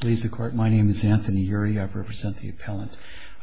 Please the court my name is Anthony Ury I represent the appellant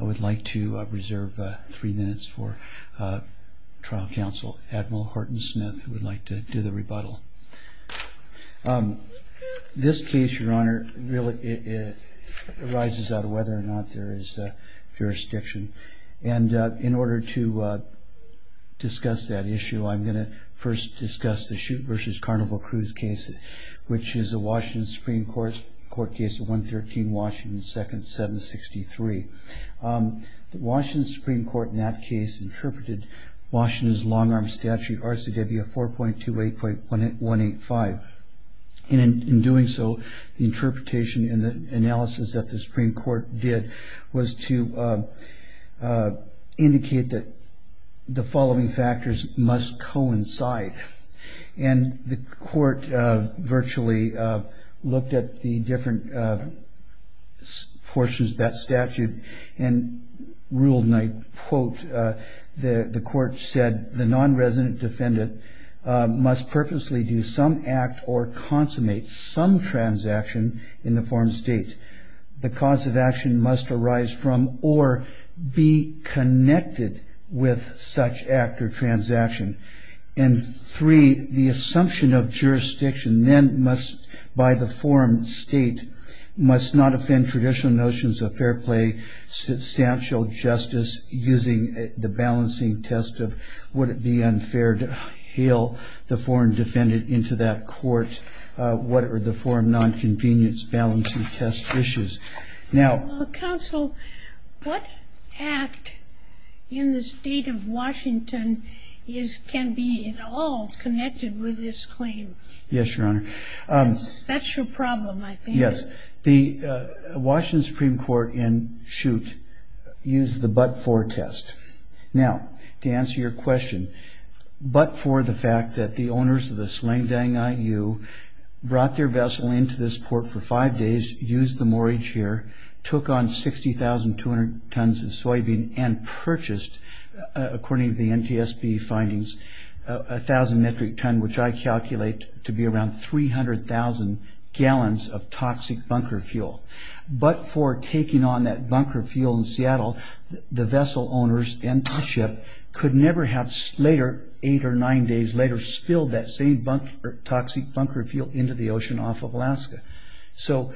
I would like to reserve three minutes for trial counsel Admiral Horton Smith who would like to do the rebuttal. This case your honor really arises out of whether or not there is jurisdiction and in order to discuss that issue I'm going to first discuss the Chute v. Carnival Cruise case which is a Washington Supreme Court case of 113 Washington 2nd 763. The Washington Supreme Court in that case interpreted Washington's long-arm statute RCW 4.28.185 and in doing so the interpretation in the analysis that the Supreme Court did was to indicate that the following factors must coincide and the court virtually looked at the different portions of that statute and ruled and I quote the court said the non-resident defendant must purposely do some act or consummate some transaction in the form of state. The cause of action must arise from or be connected with such act or transaction and three the assumption of jurisdiction then must by the forum state must not offend traditional notions of fair play substantial justice using the balancing test of would it be unfair to hail the foreign defendant into that court what are the forum non-convenience balancing test issues. Now counsel what act in the state of Washington is can be at all connected with this claim. Yes your honor. That's your problem I think. Yes the Washington Supreme Court in Chute used the but-for test. Now to answer your question but for the fact that the owners of the sling-dang IU brought their vessel into this port for five days used the moorage here took on 60,200 tons of soybean and purchased according to the thousand metric ton which I calculate to be around 300,000 gallons of toxic bunker fuel. But for taking on that bunker fuel in Seattle the vessel owners and the ship could never have later eight or nine days later spilled that same bunker toxic bunker fuel into the ocean off of Alaska. So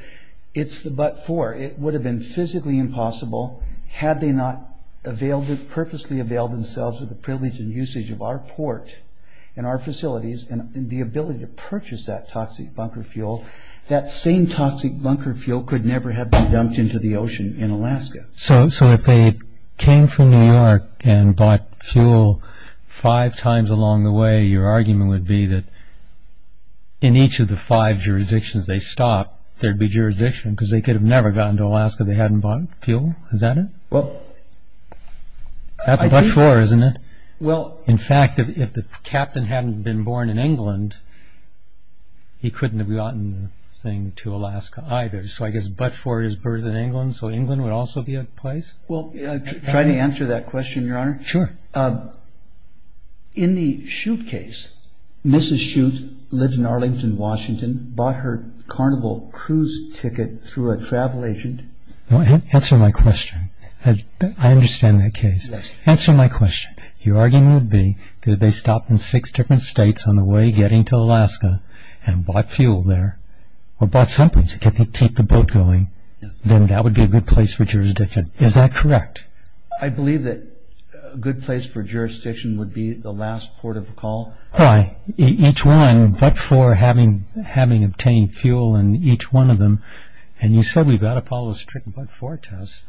it's the but-for it would have been physically impossible had they not purposefully availed themselves of the privilege and usage of our port and our facilities and the ability to purchase that toxic bunker fuel that same toxic bunker fuel could never have been dumped into the ocean in Alaska. So if they came from New York and bought fuel five times along the way your argument would be that in each of the five jurisdictions they stopped there'd be jurisdiction because they could have never gotten to Alaska they hadn't bought fuel is that it? Well that's a but-for isn't it? Well in fact if the captain hadn't been born in England he couldn't have gotten the thing to Alaska either so I guess but-for is birth in England so England would also be a place? Well try to answer that question your honor. Sure. In the Chute case Mrs. Chute lives in Arlington Washington bought her carnival cruise ticket through a travel agent. Answer my question. I understand that case. Answer my question. Your argument would be that if they stopped in six different states on the way getting to Alaska and bought fuel there or bought something to keep the boat going then that would be a good place for jurisdiction is that correct? I believe that a good place for jurisdiction would be the last port of call. Why? Each one but-for having obtained fuel in each one of them and you said we've got to follow a strict but-for test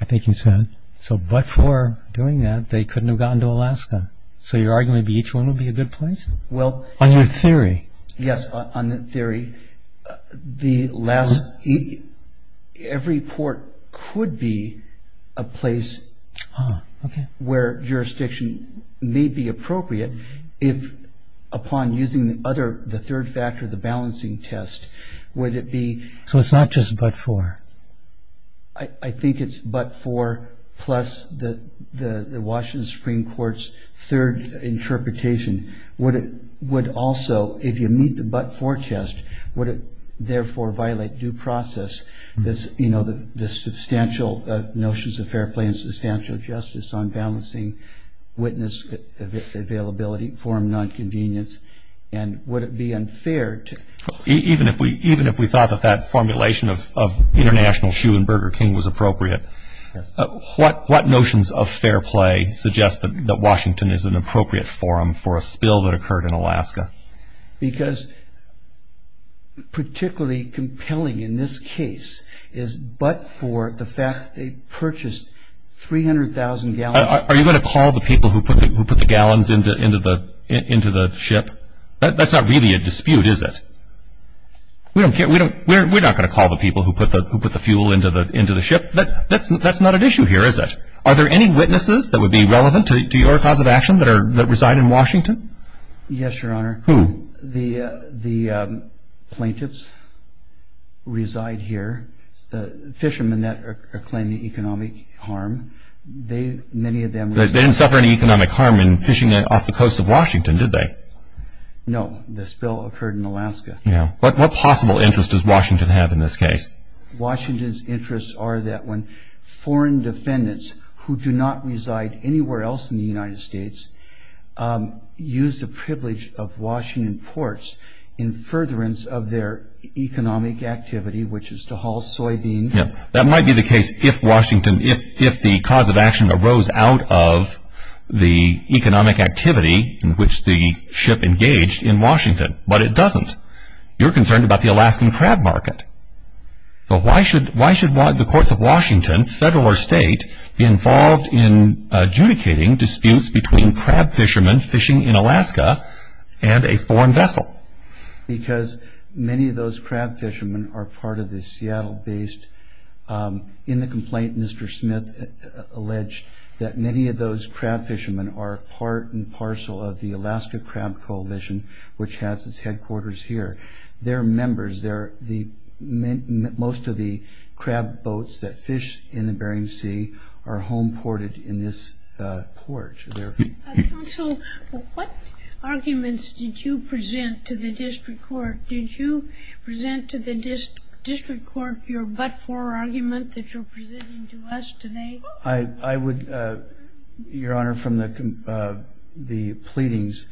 I think you said so but-for doing that they couldn't have gotten to Alaska so your argument be each one would be a good place? Well on your theory. Yes on the theory the last every port could be a place where jurisdiction may be appropriate if upon using the other the third factor the I think it's but-for plus the the Washington Supreme Court's third interpretation would it would also if you meet the but-for test would it therefore violate due process this you know the the substantial notions of fair play and substantial justice on balancing witness availability forum non-convenience and would it be unfair to even if we even if we thought that formulation of International Shoe and Burger King was appropriate what what notions of fair play suggest that Washington is an appropriate forum for a spill that occurred in Alaska? Because particularly compelling in this case is but-for the fact they purchased 300,000 gallons. Are you going to call the people who put who put the gallons into into the into the ship that's not really a we're not going to call the people who put the who put the fuel into the into the ship but that's that's not an issue here is it? Are there any witnesses that would be relevant to your cause of action that are that reside in Washington? Yes your honor. Who? The the plaintiffs reside here the fishermen that are claiming economic harm they many of them. They didn't suffer any economic harm in fishing off the coast of Washington did they? No the spill occurred in Alaska. Yeah but what possible interest is Washington have in this case? Washington's interests are that when foreign defendants who do not reside anywhere else in the United States use the privilege of Washington ports in furtherance of their economic activity which is to haul soybean. Yeah that might be the case if Washington if if the cause of action arose out of the it doesn't. You're concerned about the Alaskan crab market but why should why should want the courts of Washington federal or state involved in adjudicating disputes between crab fishermen fishing in Alaska and a foreign vessel? Because many of those crab fishermen are part of the Seattle based in the complaint Mr. Smith alleged that many of those crab fishermen are part and parcel of the quarters here. They're members they're the most of the crab boats that fish in the Bering Sea are home ported in this port. Counsel what arguments did you present to the district court? Did you present to the district court your but-for argument that you're presenting to us today? I I would your honor from the the pleadings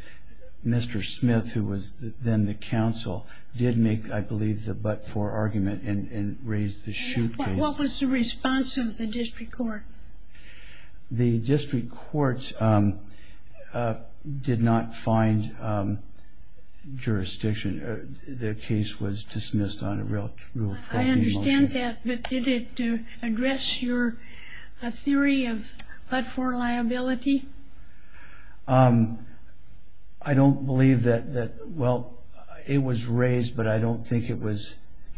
Mr. Smith who was then the counsel did make I believe the but-for argument and raised the shoot case. What was the response of the district court? The district courts did not find jurisdiction the case was dismissed on a I understand that but did it address your theory of but-for liability? I don't believe that that well it was raised but I don't think it was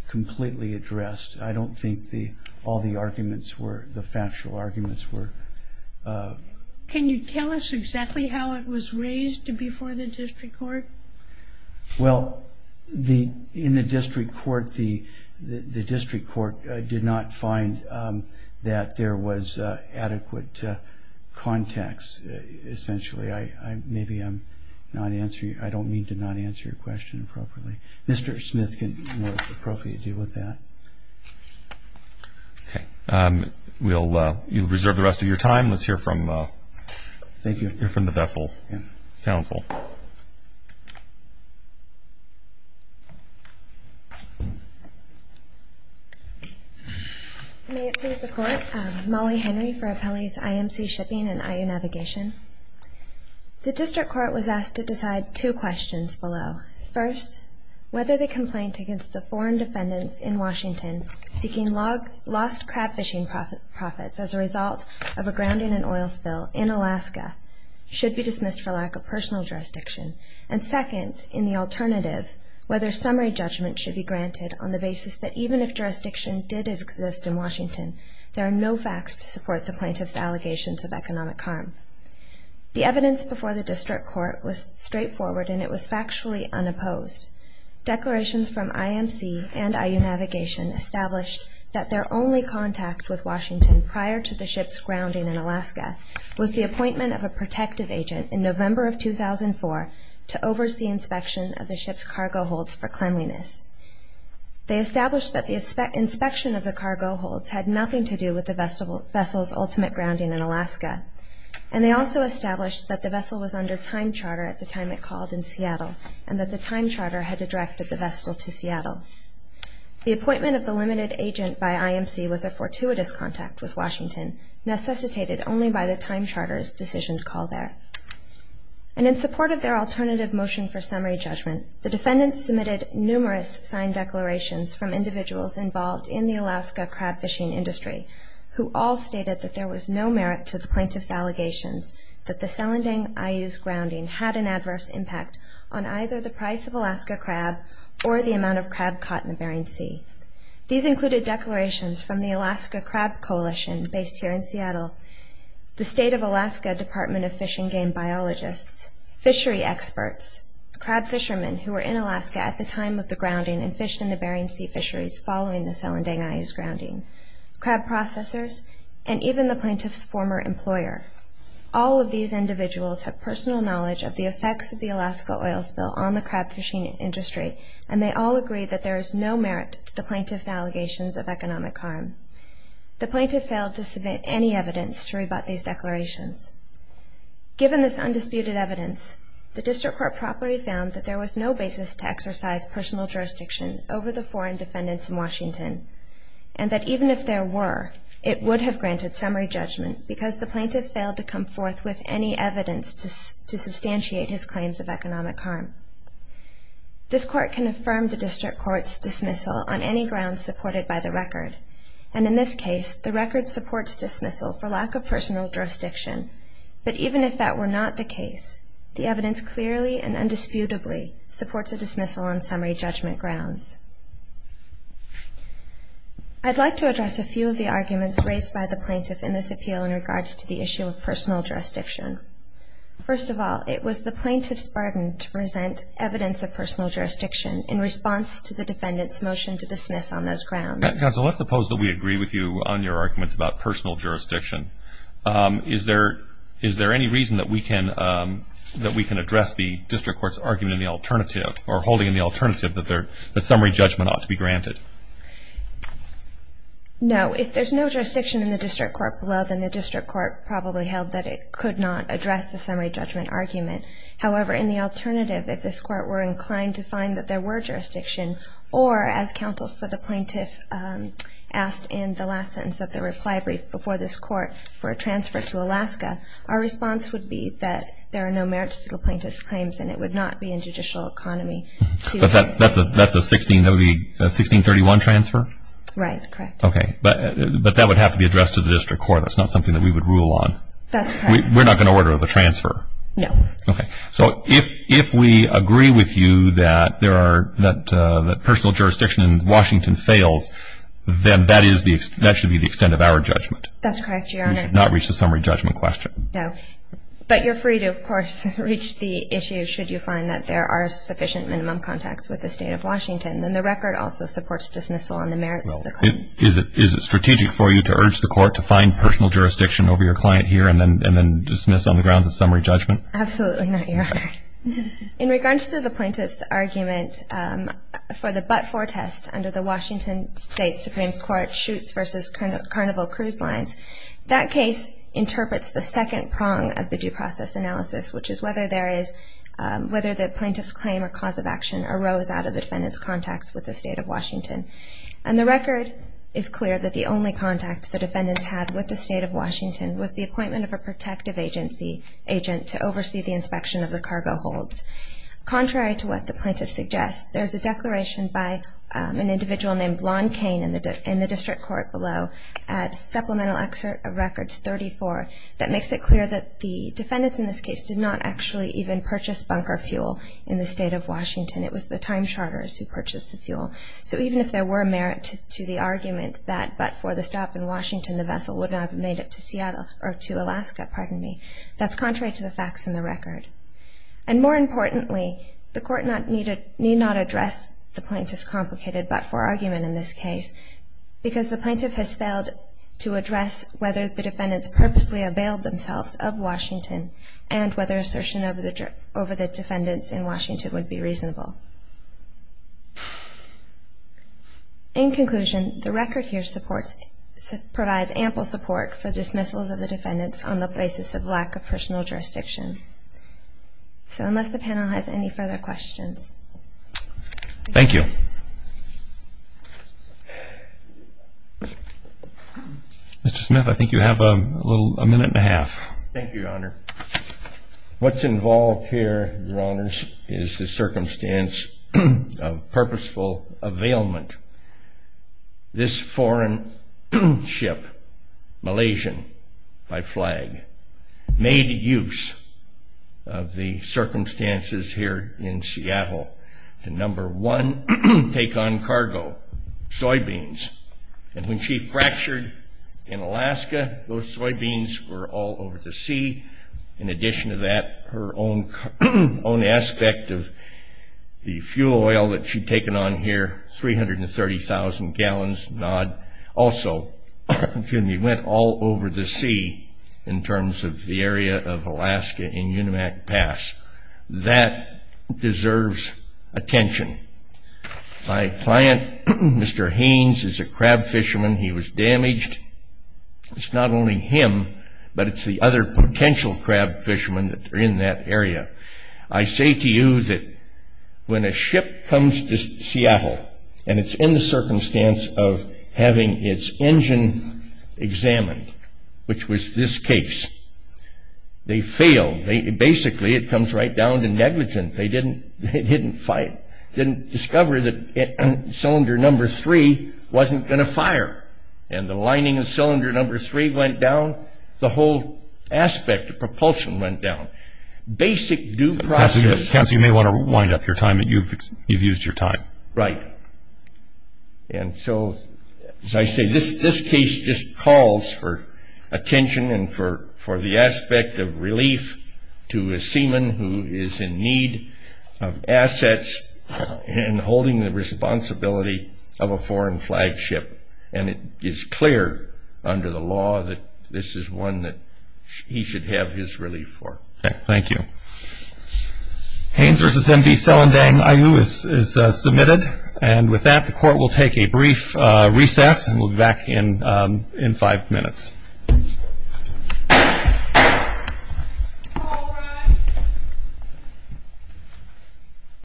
completely addressed I don't think the all the arguments were the factual arguments were. Can you tell us exactly how it was raised before the district court? Well the in the district court the the district court did not find that there was adequate context essentially I maybe I'm not answer you I don't mean to not answer your question appropriately. Mr. Smith can appropriately deal with that. Okay we'll reserve the rest of your time let's hear from thank you hear from the Mollie Henry for Appellee's IMC Shipping and IU Navigation. The district court was asked to decide two questions below. First whether they complaint against the foreign defendants in Washington seeking log lost crab fishing profits as a result of a grounding and oil spill in Alaska should be dismissed for lack of personal jurisdiction and second in the on the basis that even if jurisdiction did exist in Washington there are no facts to support the plaintiff's allegations of economic harm. The evidence before the district court was straightforward and it was factually unopposed. Declarations from IMC and IU Navigation established that their only contact with Washington prior to the ship's grounding in Alaska was the appointment of a protective agent in November of 2004 to oversee inspection of the ship's cargo holds for cleanliness. They established that the inspection of the cargo holds had nothing to do with the vessel's ultimate grounding in Alaska and they also established that the vessel was under time charter at the time it called in Seattle and that the time charter had directed the vessel to Seattle. The appointment of the limited agent by IMC was a fortuitous contact with Washington necessitated only by the time charter's decision to call there and in support of their alternative motion for summary judgment the defendants submitted numerous signed declarations from individuals involved in the Alaska crab fishing industry who all stated that there was no merit to the plaintiff's allegations that the Selandang-IU's grounding had an adverse impact on either the price of Alaska crab or the amount of crab caught in the Bering Sea. These included declarations from the Alaska Crab Coalition based here in Seattle, the State of Alaska Department of Fish and Game biologists, fishery experts, crab fishermen who were in Alaska at the time of the grounding and fished in the Bering Sea fisheries following the Selandang-IU's grounding, crab processors, and even the plaintiff's former employer. All of these individuals have personal knowledge of the effects of the Alaska oil spill on the crab fishing industry and they all agree that there is no merit to the plaintiff's allegations of economic harm. The Given this undisputed evidence, the district court properly found that there was no basis to exercise personal jurisdiction over the foreign defendants in Washington and that even if there were, it would have granted summary judgment because the plaintiff failed to come forth with any evidence to substantiate his claims of economic harm. This court can affirm the district court's dismissal on any grounds supported by the record and in this case the record supports dismissal for lack of personal jurisdiction but even if that were not the case, the evidence clearly and indisputably supports a dismissal on summary judgment grounds. I'd like to address a few of the arguments raised by the plaintiff in this appeal in regards to the issue of personal jurisdiction. First of all, it was the plaintiff's bargain to present evidence of personal jurisdiction in response to the defendant's motion to dismiss on those grounds. Counsel, let's suppose that we agree with you on your arguments about personal jurisdiction. Is there any reason that we can address the district court's argument in the alternative or holding in the alternative that summary judgment ought to be granted? No. If there's no jurisdiction in the district court below, then the district court probably held that it could not address the summary judgment argument. However, in the alternative, if this court were inclined to find that there were jurisdiction or as counsel for the plaintiff asked in the last sentence of the reply brief before this court for a transfer to Alaska, our response would be that there are no merits to the plaintiff's claims and it would not be in judicial economy to transfer. But that's a 1631 transfer? Right. Correct. Okay. But that would have to be addressed to the district court. That's not something that we would rule on. That's correct. We're not going to order the transfer? No. Okay. So if we agree with you that personal jurisdiction in Washington fails, then that should be the extent of our judgment. That's correct, Your Honor. We should not reach the summary judgment question. No. But you're free to, of course, reach the issue should you find that there are sufficient minimum contacts with the state of Washington. And the record also supports dismissal on the merits of the claims. Is it strategic for you to urge the court to find personal jurisdiction over your client here and then dismiss on the grounds of summary judgment? Absolutely not, Your Honor. In regards to the plaintiff's argument for the but-for test under the Washington State Supreme Court shoots versus carnival cruise lines, that case interprets the second prong of the due process analysis, which is whether the plaintiff's claim or cause of action arose out of the defendant's contacts with the state of Washington. And the record is clear that the only contact the defendants had with the state of Washington was the appointment of a protective agency agent to oversee the inspection of the cargo holds. Contrary to what the plaintiff suggests, there's a declaration by an individual named Blond Cain in the district court below at supplemental excerpt of records 34 that makes it clear that the defendants in this case did not actually even purchase bunker fuel in the state of Washington. It was the time charters who purchased the fuel. So even if there were merit to the argument that but-for the stop in Washington, the vessel would not have made it to Seattle or to Alaska, pardon me. That's contrary to the facts in the record. And more importantly, the court need not address the plaintiff's complicated but-for argument in this case because the plaintiff has failed to address whether the defendants purposely availed themselves of Washington and whether assertion over the defendants in Washington would be reasonable. In conclusion, the record here provides ample support for dismissals of the defendants on the basis of lack of personal jurisdiction. So unless the panel has any further questions. Thank you. Mr. Smith, I think you have a little, a minute and a half. Thank you, Your Honor. In the absence of purposeful availment, this foreign ship, Malaysian by flag, made use of the circumstances here in Seattle to, number one, take on cargo, soybeans. And when she fractured in Alaska, those soybeans were all over the sea. In addition to that, her own aspect of the fuel oil that she'd taken on here, 330,000 gallons, Nod. Also, excuse me, went all over the sea in terms of the area of Alaska in Unimac Pass. That deserves attention. My client, Mr. Haynes, is a crab fisherman. He was damaged. It's not only him, but it's the other potential crab fishermen that are in that area. I say to you that when a ship comes to Seattle, and it's in the circumstance of having its engine examined, which was this case, they failed. Basically, it comes right down to negligence. They didn't fight. And the lining of cylinder number three went down. The whole aspect of propulsion went down. Basic due process. Counselor, you may want to wind up your time. You've used your time. Right. And so, as I say, this case just calls for attention and for the aspect of relief to a seaman who is in need of assets and holding the responsibility of a foreign flagship. And it is clear under the law that this is one that he should have his relief for. Thank you. Haynes v. M.D. Selandang, IU, is submitted. And with that, the court will take a brief recess. We'll be back in five minutes.